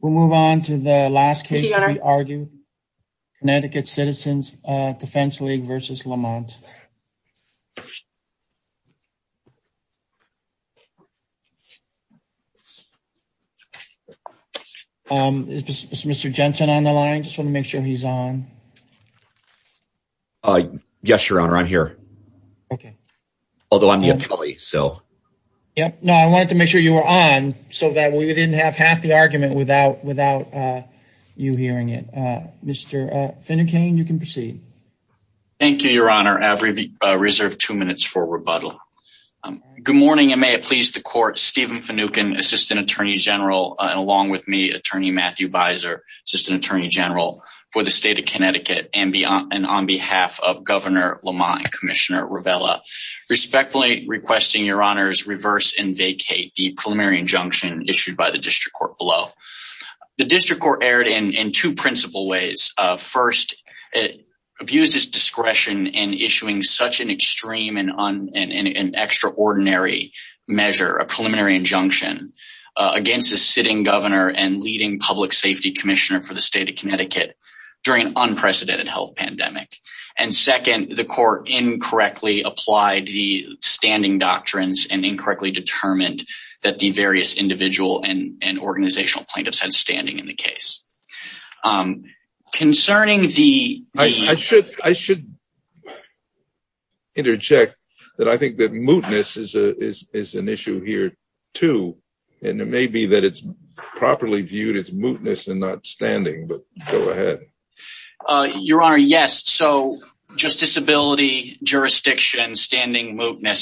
we'll move on to the last case we argue Connecticut Citizens Defense League versus Lamont. Mr. Jensen on the line just want to make sure he's on. Yes your honor I'm here okay although I'm the employee so yep no I wanted to make sure you were on so that we didn't have half the argument without without you hearing it. Mr. Finucane you can proceed. Thank you your honor every reserved two minutes for rebuttal. Good morning and may it please the court Stephen Finucane assistant attorney general and along with me attorney Matthew Beiser assistant attorney general for the state of Connecticut and beyond and on behalf of Governor Lamont and Commissioner Rivela respectfully requesting your honors reverse and vacate the preliminary injunction issued by the district court below. The district court erred in in two principal ways. First it abused its discretion in issuing such an extreme and an extraordinary measure a preliminary injunction against a sitting governor and leading public safety commissioner for the state of Connecticut during an unprecedented health pandemic and second the court incorrectly applied the standing doctrines and incorrectly determined that the various individual and organizational plaintiffs had standing in the case. Concerning the I should I should interject that I think that mootness is a is an issue here too and it may be that it's properly viewed it's mootness and not standing but go mootness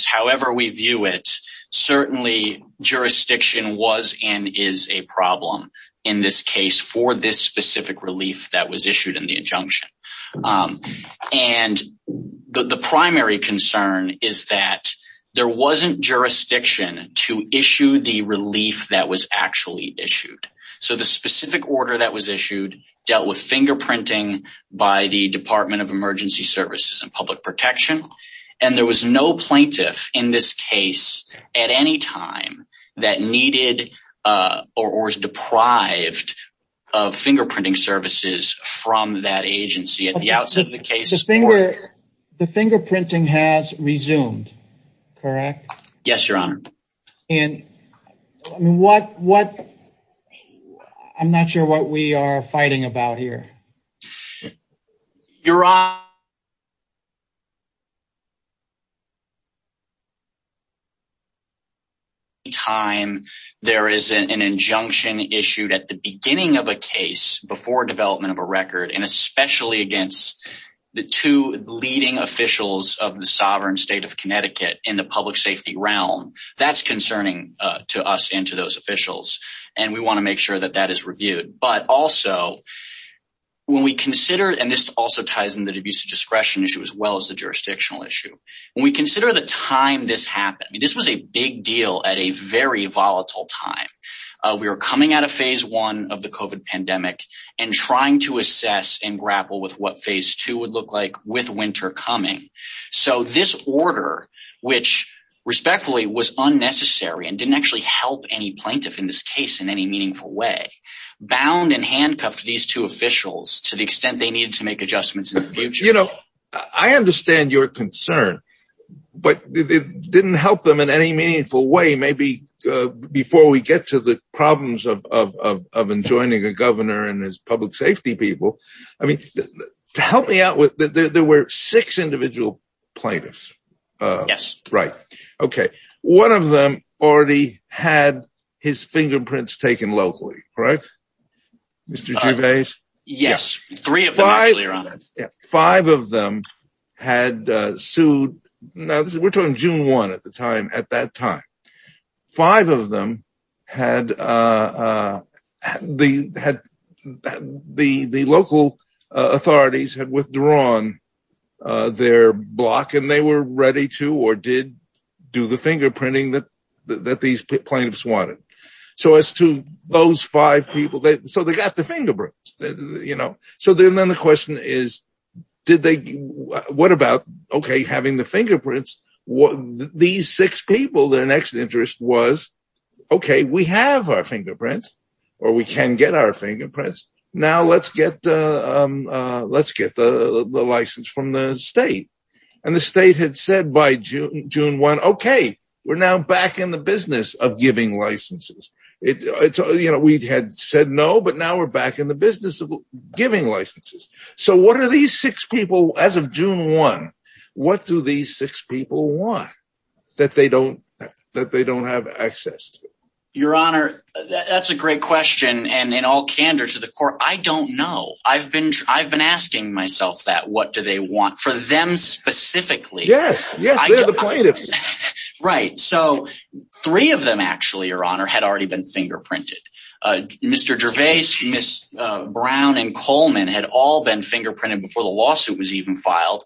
however we view it certainly jurisdiction was and is a problem in this case for this specific relief that was issued in the injunction and the primary concern is that there wasn't jurisdiction to issue the relief that was actually issued so the specific order that was issued dealt with fingerprinting by the Department of Emergency Services and Public Protection and there was no plaintiff in this case at any time that needed or was deprived of fingerprinting services from that agency at the outset of the case. The fingerprinting has resumed correct? Yes your honor. And what what I'm not sure what we are fighting about here. Your honor. Time there is an injunction issued at the beginning of a case before development of a record and especially against the two leading officials of the sovereign state of Connecticut in the public safety realm that's concerning to us into those officials and we want to make sure that that is reviewed but also when we consider and this also ties in the abuse of discretion issue as well as the jurisdictional issue when we consider the time this happened this was a big deal at a very volatile time we were coming out of phase one of the COVID pandemic and trying to assess and grapple with what phase two would look like with winter coming so this order which respectfully was unnecessary and didn't actually help any plaintiff in this case in any meaningful way bound and handcuffed these two officials to the extent they needed to make adjustments you know I understand your concern but it didn't help them in any meaningful way maybe before we get to the problems of enjoining a governor and his public safety people I mean to help me out with that there were six individual plaintiffs yes right okay one of them already had his fingerprints taken locally right mr. Davis yes three of five five of them had sued now this is we're talking June 1 at the time at that time five of them had the had the the local authorities had withdrawn their block and they were ready to or did do the fingerprinting that that these plaintiffs wanted so as to those five people that so they got the fingerprints you know so then then the question is did they what about okay having the fingerprints what these six people their next interest was okay we have our fingerprints or we can get our fingerprints now let's get let's get the license from the state and the state had said by June June 1 okay we're now back in the business of giving licenses it's you know we'd had said no but now we're back in the business of giving licenses so what are these six people as of June 1 what do these six people want that they don't that they don't have access your honor that's a great question and in all candor to the court I don't know I've been I've been asking myself that what do they want for them specifically yes right so three of them actually your honor had already been fingerprinted mr. Gervais miss Brown and Coleman had all been fingerprinted before the lawsuit was even filed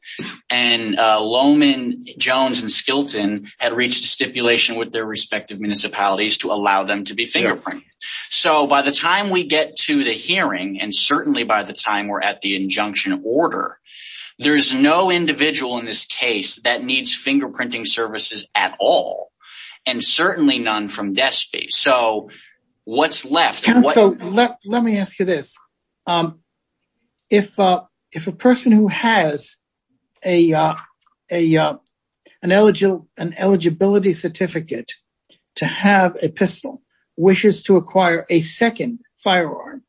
and Lohman Jones and Skilton had reached a stipulation with their respective municipalities to allow them to be and certainly by the time we're at the injunction order there's no individual in this case that needs fingerprinting services at all and certainly none from despy so what's left let me ask you this if if a person who has a a an eligible an eligibility certificate to have a pistol wishes to acquire a second firearm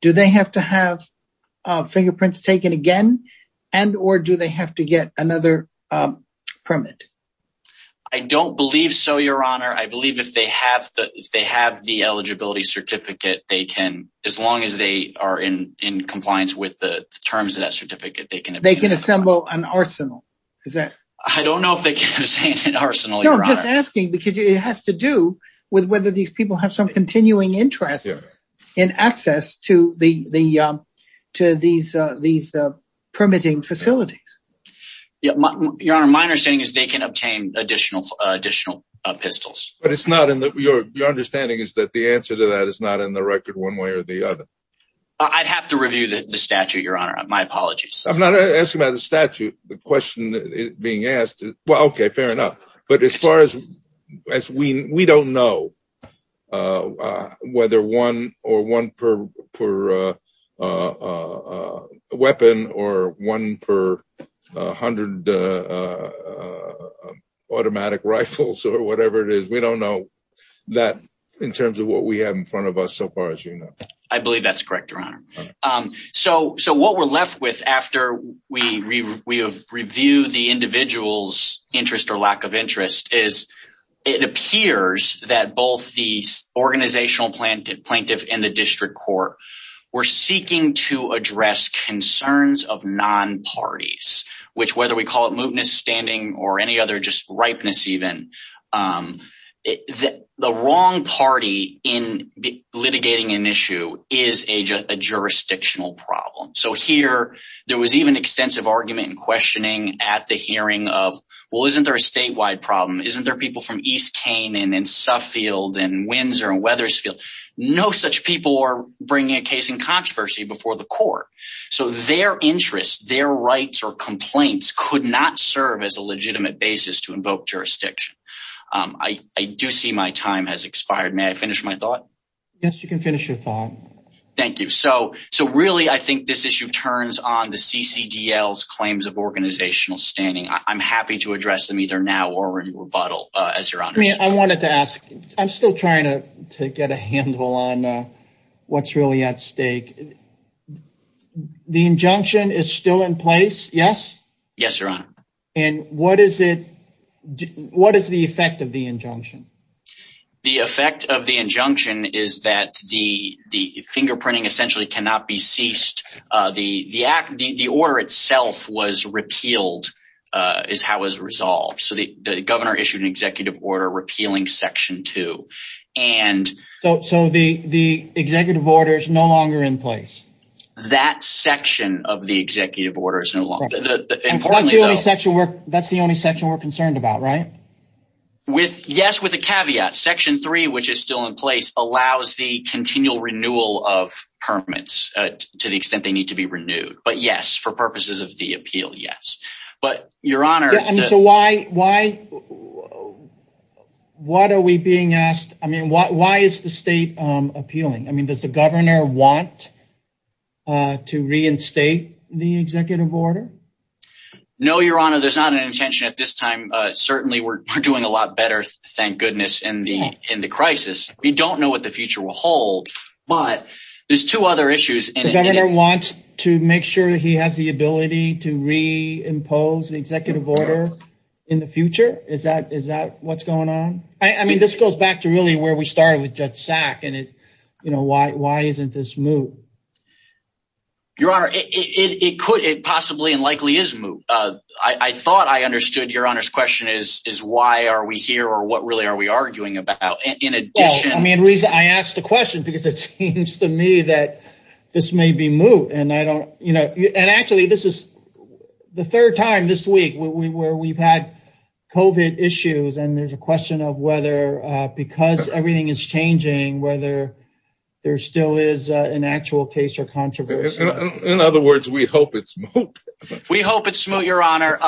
do they have to have fingerprints taken again and or do they have to get another permit I don't believe so your honor I believe if they have that if they have the eligibility certificate they can as long as they are in in compliance with the terms of that certificate they can they can assemble an arsenal is that I don't know if they can say an arsenal you're just asking because it has to do with whether these people have some continuing interest in access to the to these these permitting facilities yeah your honor my understanding is they can obtain additional additional pistols but it's not in that we are your understanding is that the answer to that is not in the record one way or the other I'd have to review the statute your honor my apologies I'm not asking about the statute the question being asked well okay fair enough but as far as as we we don't know whether one or one per per weapon or one per hundred automatic rifles or whatever it is we don't know that in terms of what we have in front of us so far as you know I believe that's correct your honor so so what we're left with after we review the individual's interest or lack of interest is it appears that both these organizational planted plaintiff in the district court we're seeking to address concerns of non parties which whether we call it mootness standing or any other just ripeness even the wrong party in litigating an issue is a jurisdictional problem so here there was even extensive argument and questioning at the hearing of well isn't there a statewide problem isn't there people from East Canaan and Suffield and Windsor and Wethersfield no such people are bringing a case in controversy before the court so their interests their rights or complaints could not serve as a legitimate basis to invoke jurisdiction I do see my time has expired may I finish my thought yes you can finish your thought thank you so so really I think this issue turns on the CCDL's claims of organizational standing I'm happy to address them either now or in rebuttal as your honor I wanted to ask I'm still trying to get a handle on what's really at stake the injunction is still in place yes yes your honor and what is it what is the effect of the injunction the effect of the injunction is that the the fingerprinting essentially cannot be ceased the the act the order itself was repealed is how was resolved so the governor issued an executive order repealing section two and so the the executive order is no longer in place that section of the executive order is no longer important section work that's the only section we're concerned about right with yes with a caveat section 3 which is still in place allows the continual renewal of permits to the extent they need to be renewed but yes for purposes of the appeal yes but your honor so why why what are we being asked I mean what why is the state appealing I mean does the governor want to reinstate the executive order no your honor there's not an intention at this time certainly we're doing a lot better thank goodness in the in the crisis we don't know what the future will hold but there's two other issues and governor wants to make sure that he has the ability to reimpose the executive order in the future is that is that what's going on I mean this goes back to really where we started with judge sack and it you know why why isn't this move your honor it could it possibly and likely is move I thought I understood your honors question is is why are we here or what really are we in addition I mean reason I asked the question because it seems to me that this may be moved and I don't you know and actually this is the third time this week we were we've had kovat issues and there's a question of whether because everything is changing whether there still is an actual case or controversy in other words we hope it's we hope it's smooth your honor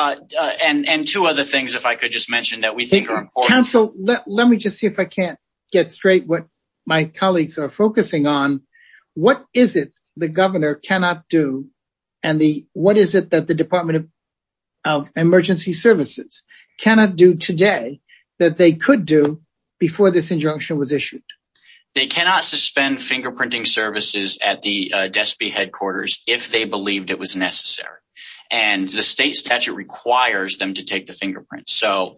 and and two other things if I could just mention that we think council let me just see if I can't get straight what my colleagues are focusing on what is it the governor cannot do and the what is it that the Department of Emergency Services cannot do today that they could do before this injunction was issued they cannot suspend fingerprinting services at the despy headquarters if they believed it was necessary and the state statute requires them to take the fingerprint so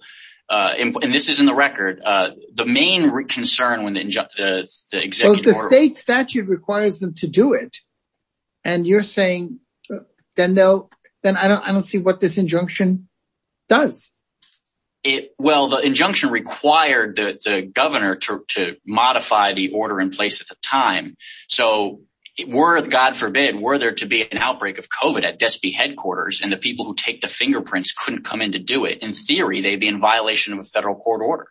and this is in the record the main concern when the state statute requires them to do it and you're saying then they'll then I don't I don't see what this injunction does it well the injunction required the governor to modify the order in place at the time so worth God forbid were there to be an outbreak of kovat at despy headquarters and the people who take the fingerprints couldn't come in to do it in theory they'd be in violation of a federal court order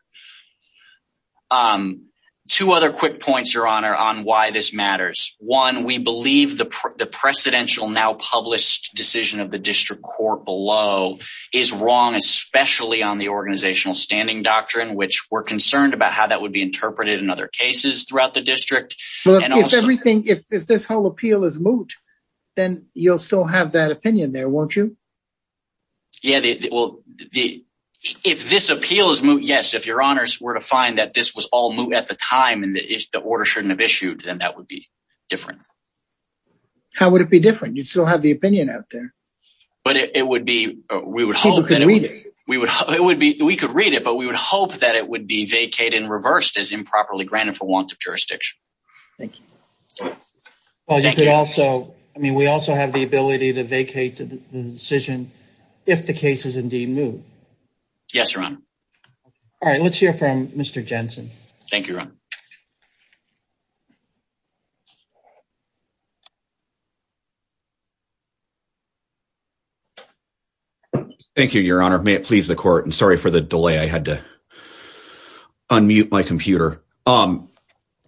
two other quick points your honor on why this matters one we believe the presidential now published decision of the district court below is wrong especially on the organizational standing doctrine which were concerned about how that would be interpreted in other cases throughout the district and everything if this whole appeal is moot then you'll still have that opinion there won't you yeah well the if this appeal is moot yes if your honors were to find that this was all moot at the time and that is the order shouldn't have issued and that would be different how would it be different you still have the opinion out there but it would be we would hope that it we would hope it would be we could read it but we would hope that it would be vacated and reversed as improperly granted for want of jurisdiction thank you well you could also I mean we also have the ability to vacate the decision if the case is indeed moot yes run all right let's hear from mr. Jensen thank you thank you your honor may it please the court and sorry for the delay I had to unmute my computer um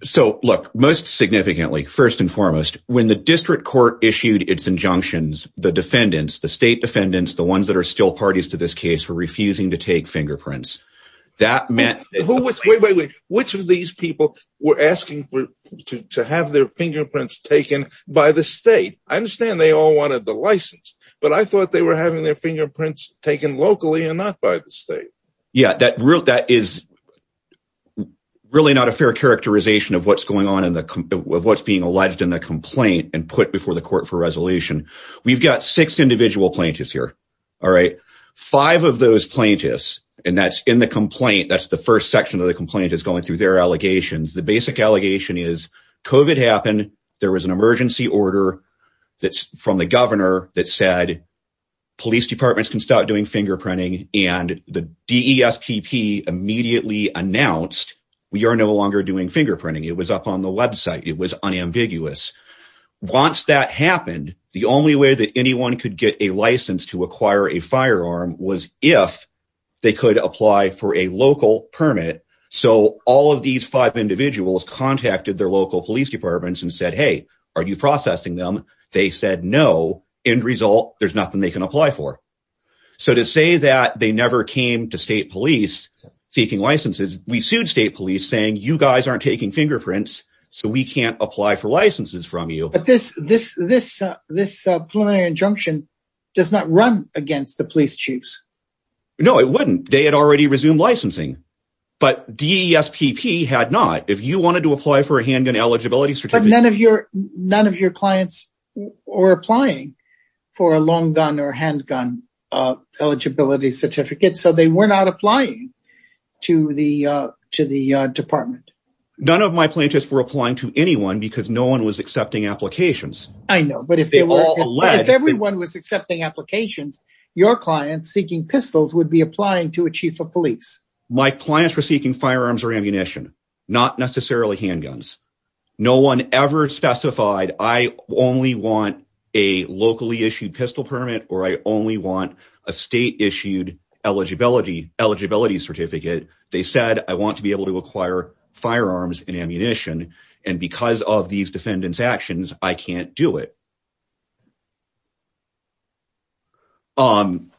so look most significantly first and foremost when the district court issued its injunctions the defendants the state defendants the ones that are still parties to this case for refusing to take fingerprints that meant which of these people were asking for to have their fingerprints taken by the state I understand they all wanted the license but I thought they were having their fingerprints taken locally and not by the state yeah that route that is really not a fair characterization of what's going on in the what's being alleged in the complaint and put before the court for resolution we've got six individual plaintiffs here all right five of those plaintiffs and that's in the complaint that's the first section of the complaint is going through their allegations the basic allegation is COVID happened there was an emergency order that's from the governor that said police departments can stop doing fingerprinting and the DESPP immediately announced we are no longer doing fingerprinting it was up on the website it was unambiguous once that happened the only way that anyone could get a license to acquire a firearm was if they could apply for a local permit so all of these five individuals contacted their local police departments and said hey are you processing them they said no end result there's nothing they can apply for so to say that they never came to state police seeking licenses we sued state police saying you guys aren't taking fingerprints so we can't apply for licenses from you but this this this this preliminary injunction does not run against the police chiefs no it wouldn't they had already resumed licensing but DESPP had not if you wanted to apply for a handgun eligibility certificate none of your none of your clients or applying for a long gun or handgun eligibility certificate so they were not applying to the to the department none of my plaintiffs were applying to anyone because no one was accepting applications I know but if they were all the lead everyone was accepting applications your clients seeking pistols would be applying to a chief of police my clients were seeking firearms or ammunition not necessarily handguns no one ever specified I only want a locally issued pistol permit or I only want a state-issued eligibility eligibility certificate they said I want to be able to acquire firearms and ammunition and because of these defendants actions I can't do it and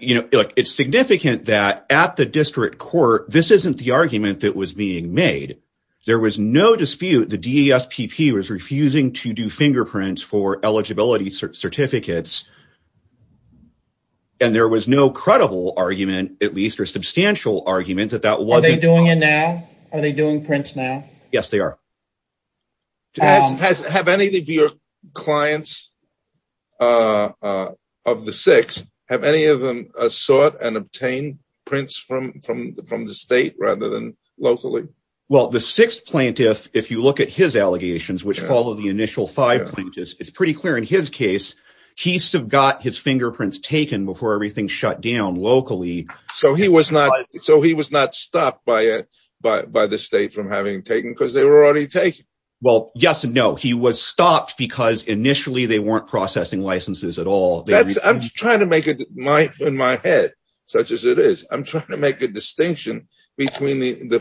you know it's significant that at the district court this isn't the it was being made there was no dispute the DESPP was refusing to do fingerprints for eligibility certificates and there was no credible argument at least or substantial argument that that wasn't doing it now are they doing prints now yes they are have any of your clients of the six have any of them sought and locally well the sixth plaintiff if you look at his allegations which follow the initial five plaintiffs it's pretty clear in his case he sub got his fingerprints taken before everything shut down locally so he was not so he was not stopped by it but by the state from having taken because they were already taken well yes and no he was stopped because initially they weren't processing licenses at all I'm trying to make it in my head such as it is I'm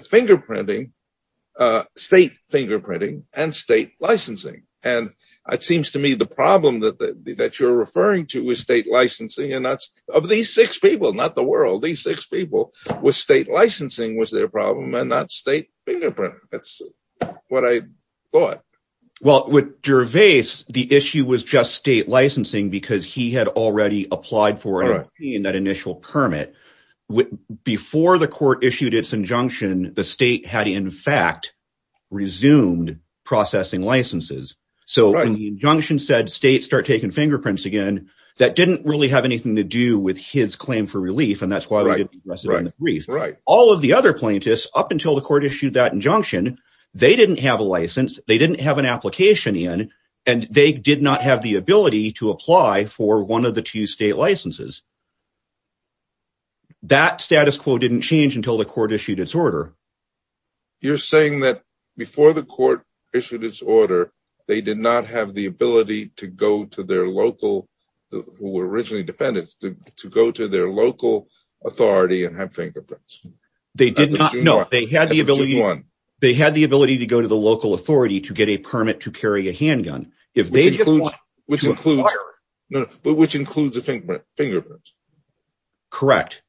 fingerprinting state fingerprinting and state licensing and it seems to me the problem that that you're referring to is state licensing and that's of these six people not the world these six people with state licensing was their problem and not state fingerprint that's what I thought well with Gervais the issue was just state licensing because he had already applied for that initial permit before the court issued its injunction the state had in fact resumed processing licenses so the injunction said state start taking fingerprints again that didn't really have anything to do with his claim for relief and that's why all of the other plaintiffs up until the court issued that injunction they didn't have a license they didn't have an application in and they did not have the that status quo didn't change until the court issued its order you're saying that before the court issued its order they did not have the ability to go to their local who were originally defendants to go to their local authority and have fingerprints they did not know they had the ability one they had the ability to go to the local authority to get a permit to carry a handgun if they which includes a fingerprint correct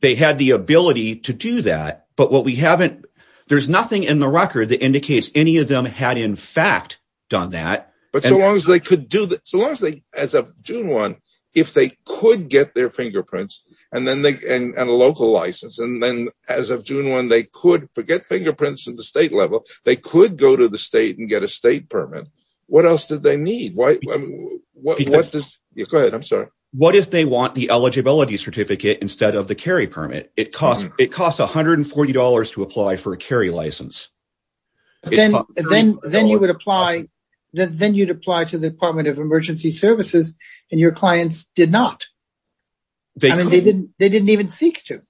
they had the ability to do that but what we haven't there's nothing in the record that indicates any of them had in fact done that but so long as they could do that so long as they as of June 1 if they could get their fingerprints and then they and a local license and then as of June 1 they could forget fingerprints in the state level they could go to the state permit what else did they need why what is good I'm sorry what if they want the eligibility certificate instead of the carry permit it cost it cost a hundred and forty dollars to apply for a carry license then then then you would apply then you'd apply to the Department of Emergency Services and your clients did not they didn't they didn't even seek to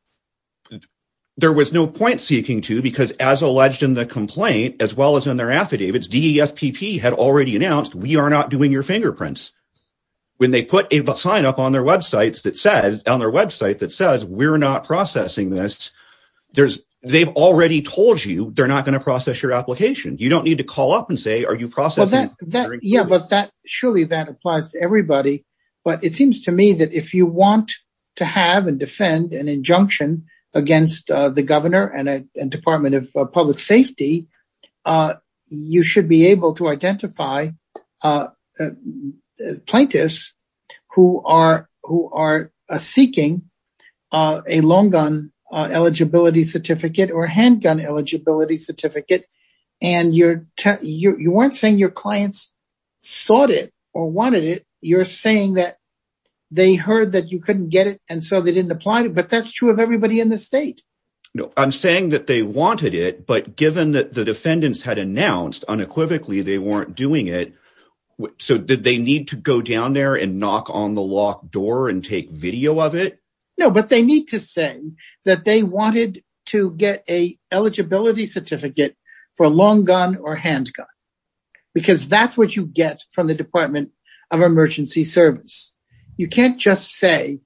there was no point seeking to because as alleged in the complaint as well as in their affidavits DES PP had already announced we are not doing your fingerprints when they put a sign up on their websites that says on their website that says we're not processing this there's they've already told you they're not going to process your application you don't need to call up and say are you processing that yeah but that surely that applies to everybody but it seems to me that if you want to have and defend an injunction against the governor and a Department of Public Safety you should be able to identify plaintiffs who are who are seeking a long gun eligibility certificate or handgun eligibility certificate and you're you weren't saying your clients sought it or wanted it you're saying that they heard that you couldn't get it and so they didn't apply to but that's true of everybody in the state no I'm saying that they wanted it but given that the defendants had announced unequivocally they weren't doing it so did they need to go down there and knock on the locked door and take video of it no but they need to say that they wanted to get a eligibility certificate for a long gun or handgun because that's what you get from the Department of Emergency Service you can't just say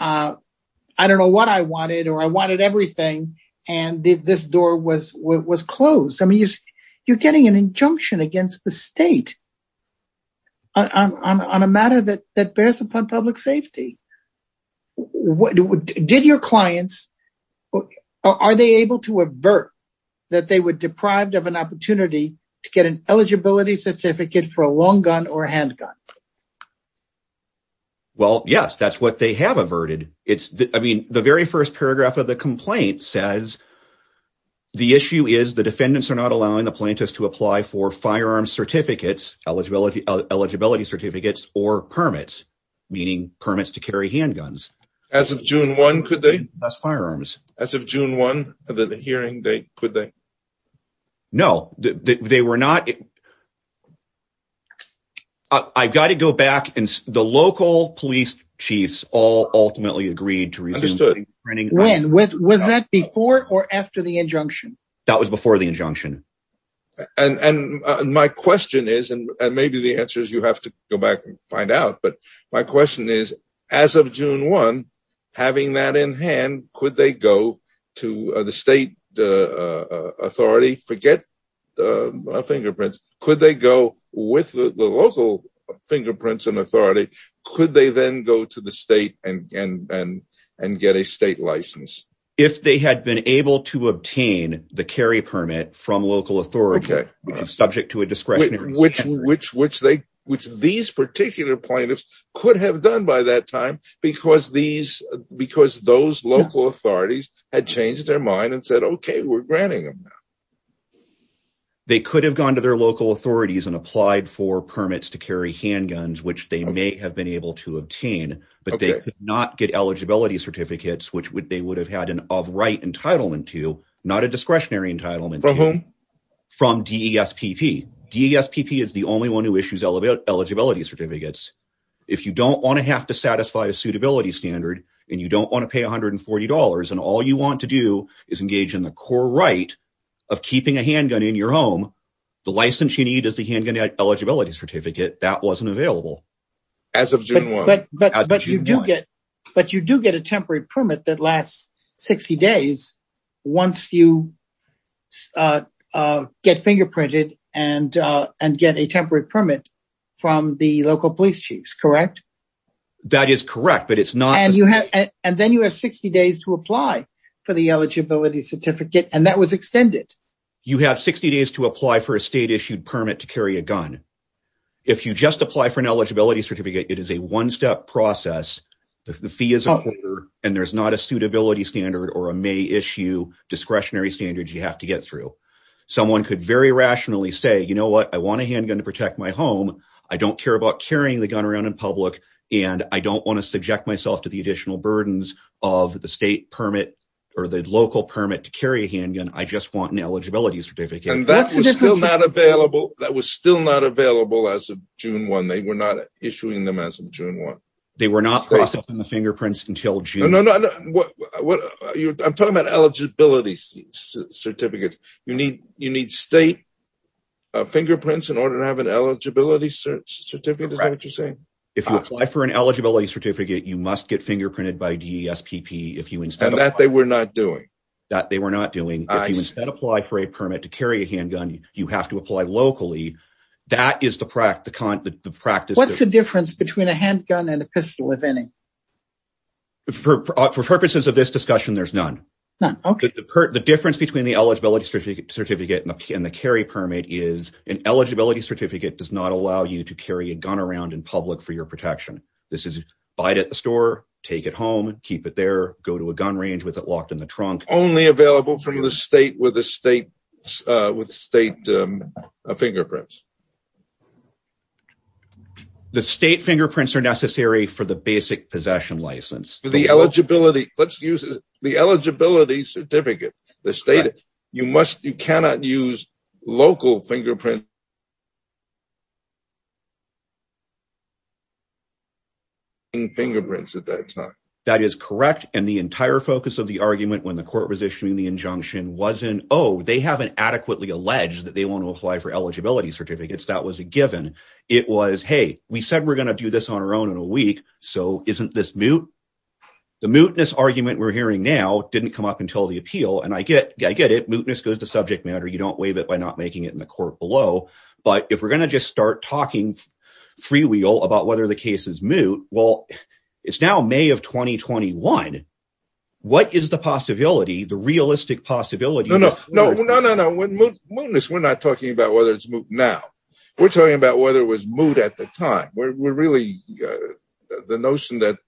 I don't know what I was it was closed I mean you're getting an injunction against the state on a matter that that bears upon public safety what did your clients are they able to avert that they were deprived of an opportunity to get an eligibility certificate for a long gun or handgun well yes that's what they have averted it's I mean the very first paragraph of the complaint says the issue is the defendants are not allowing the plaintiffs to apply for firearm certificates eligibility eligibility certificates or permits meaning permits to carry handguns as of June 1 could they that's firearms as of June 1 of the hearing date could they know that they were not I've got to go back and the local police chiefs all ultimately agreed to resume printing when with was that before or after the injunction that was before the injunction and and my question is and maybe the answer is you have to go back and find out but my question is as of June 1 having that in hand could they go to the state authority forget the fingerprints could they go with the local fingerprints and could they then go to the state and and and get a state license if they had been able to obtain the carry permit from local authority okay subject to a discretionary which which which they which these particular plaintiffs could have done by that time because these because those local authorities had changed their mind and said okay we're granting them now they could have gone to their local authorities and applied for permits to carry handguns which they may have been able to obtain but they could not get eligibility certificates which would they would have had an of right entitlement to not a discretionary entitlement from whom from DES PP DS PP is the only one who issues elevate eligibility certificates if you don't want to have to satisfy a suitability standard and you don't want to pay a hundred and forty dollars and all you want to do is engage in the core right of keeping a handgun in your home the license you need is the handgun eligibility certificate that wasn't available as of June 1 but you do get but you do get a temporary permit that lasts 60 days once you get fingerprinted and and get a temporary permit from the local police chiefs correct that is correct but it's not and you have and then you have 60 days to apply for the eligibility certificate and that was extended you have 60 days to apply for a state issued permit to carry a gun if you just apply for an eligibility certificate it is a one-step process if the fee is and there's not a suitability standard or a may issue discretionary standards you have to get through someone could very rationally say you know what I want a handgun to protect my home I don't care about carrying the gun around in public and I don't want to subject myself to the additional burdens of the state permit or the local permit to carry a handgun I just want an eligibility certificate and that's just not available that was still not available as of June 1 they were not issuing them as of June 1 they were not processing the fingerprints until June I'm talking about eligibility certificates you need you need state fingerprints in order to have an eligibility search certificate is that what you're saying if you apply for an eligibility certificate you must get fingerprinted by DESPP if you instead of that they were not doing that they were not doing I said apply for a permit to carry a handgun you have to apply locally that is the practical practice what's the difference between a handgun and a pistol if any for purposes of this discussion there's none okay the difference between the eligibility certificate and the carry permit is an eligibility certificate does not allow you to carry a gun around in public for your protection this is bite at the store take it home keep it there go to a gun range with it locked in the trunk only available from the state with a state with state fingerprints the state fingerprints are necessary for the basic possession license for the eligibility let's use the eligibility certificate the state you must you cannot use local fingerprint in fingerprints at that time that is correct and the entire focus of the argument when the court was issuing the injunction wasn't oh they haven't adequately alleged that they want to apply for eligibility certificates that was a given it was hey we said we're gonna do this on our own in a week so isn't this mute the mootness argument we're hearing now didn't come up until the appeal and I get I get it mootness goes to subject matter you don't waive it by not making it in the court below but if we're gonna just start talking freewheel about whether the case is moot well it's now May of 2021 what is the possibility the realistic possibility we're not talking about whether it's moot now we're talking about whether it was moot at the time we're really the notion that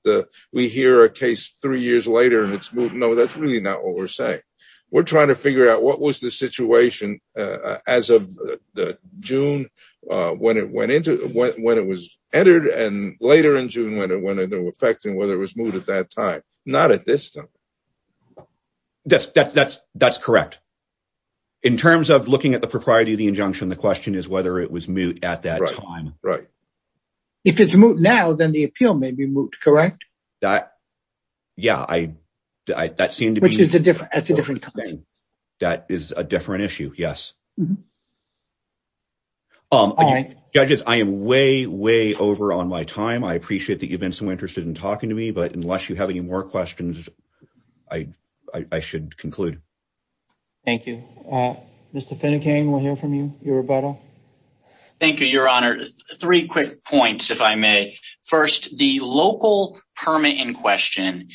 we hear a case three years later and it's moot no that's really not what we're saying we're trying to figure out what was the situation as of the June when it went into when it was entered and later in June when it went into effect and whether it was moot at that time not at this stuff that's that's that's that's correct in terms of looking at the propriety of the injunction the question is whether it was moot at that time right if it's moot now then the appeal may be moot correct that yeah I that seemed to which is a different that's a different time that is a different issue yes um judges I am way way over on my time I appreciate that you've been so interested in talking to me but unless you have any more questions I I should conclude thank you mr. Finnegan we'll hear from you your rebuttal thank you your honor three quick points if I may first the local permit in question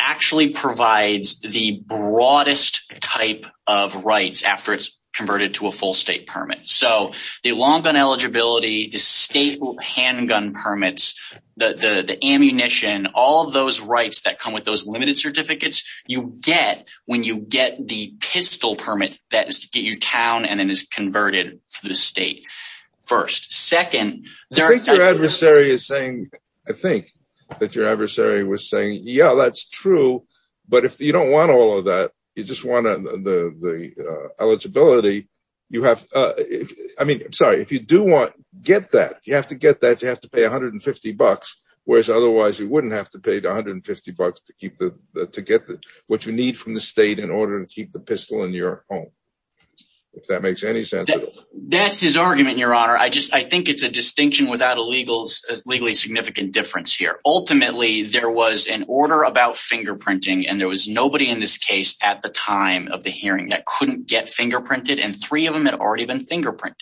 actually provides the broadest type of rights after it's converted to a full state permit so the long gun eligibility the state handgun permits the the ammunition all of those rights that come with those limited certificates you get when you get the pistol permit that is to get you town and then is converted to the state first second their adversary is saying I think that your adversary was saying yeah that's true but if you don't want all of that you just want the the eligibility you have I mean I'm sorry if you do want get that you have to get that you have to pay 150 bucks whereas otherwise you wouldn't have to pay 250 bucks to keep the to get what you need from the state in order to keep the pistol in your home if that makes any sense that's his argument your honor I just I think it's a distinction without a legal legally significant difference here ultimately there was an order about fingerprinting and there was nobody in this case at the time of the hearing that couldn't get fingerprinted and three of them had already been fingerprinted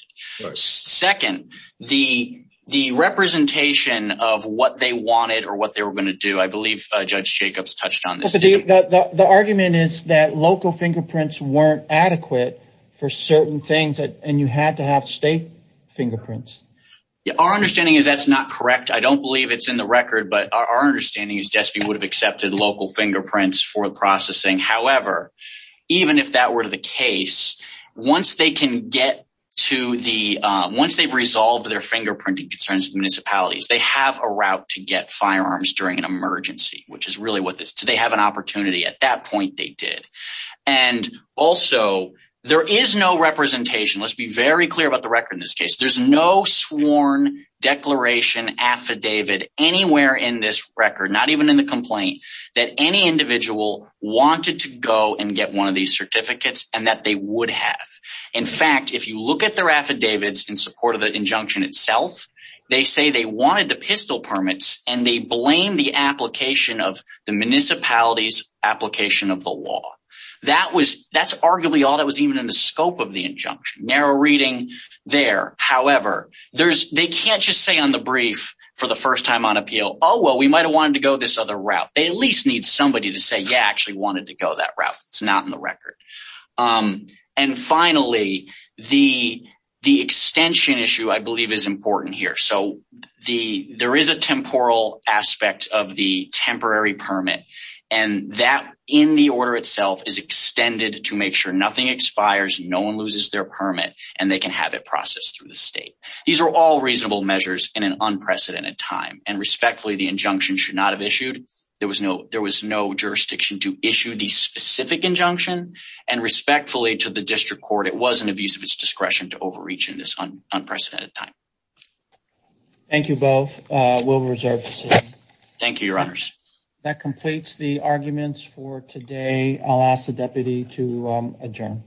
second the the representation of what they wanted or what they were going to do I believe judge Jacobs touched on this the argument is that local fingerprints weren't adequate for certain things that and you had to have state fingerprints our understanding is that's not correct I don't believe it's in the record but our understanding is just be would have accepted local fingerprints for processing however even if that were to the case once they can get to the once they've resolved their fingerprinting concerns municipalities they have a route to get firearms during an emergency which is really what this do they have an opportunity at that point they did and also there is no representation let's be very clear about the record in this case there's no sworn declaration affidavit anywhere in this record not even in the complaint that any individual wanted to go and get one of these certificates and that they would have in fact if you look at their affidavits in support of the injunction itself they say they wanted the pistol permits and they blame the application of the municipalities application of the law that was that's arguably all that was even in the scope of the injunction narrow reading there however there's they can't just say on the brief for the first time on appeal oh well we might have wanted to go this other route they at least need somebody to say yeah actually wanted to go that route it's not in the record and finally the the extension issue I believe is important here so the there is a temporal aspect of the temporary permit and that in the order itself is extended to make sure nothing expires no one loses their permit and they can have it processed through the state these are all reasonable measures in an unprecedented time and respectfully the injunction should not have issued there was no there was no jurisdiction to issue the specific injunction and respectfully to the district court it was an abuse of its discretion to overreach in this unprecedented time thank you both we'll reserve thank you your honors that completes the arguments for today I'll ask the deputy to adjourn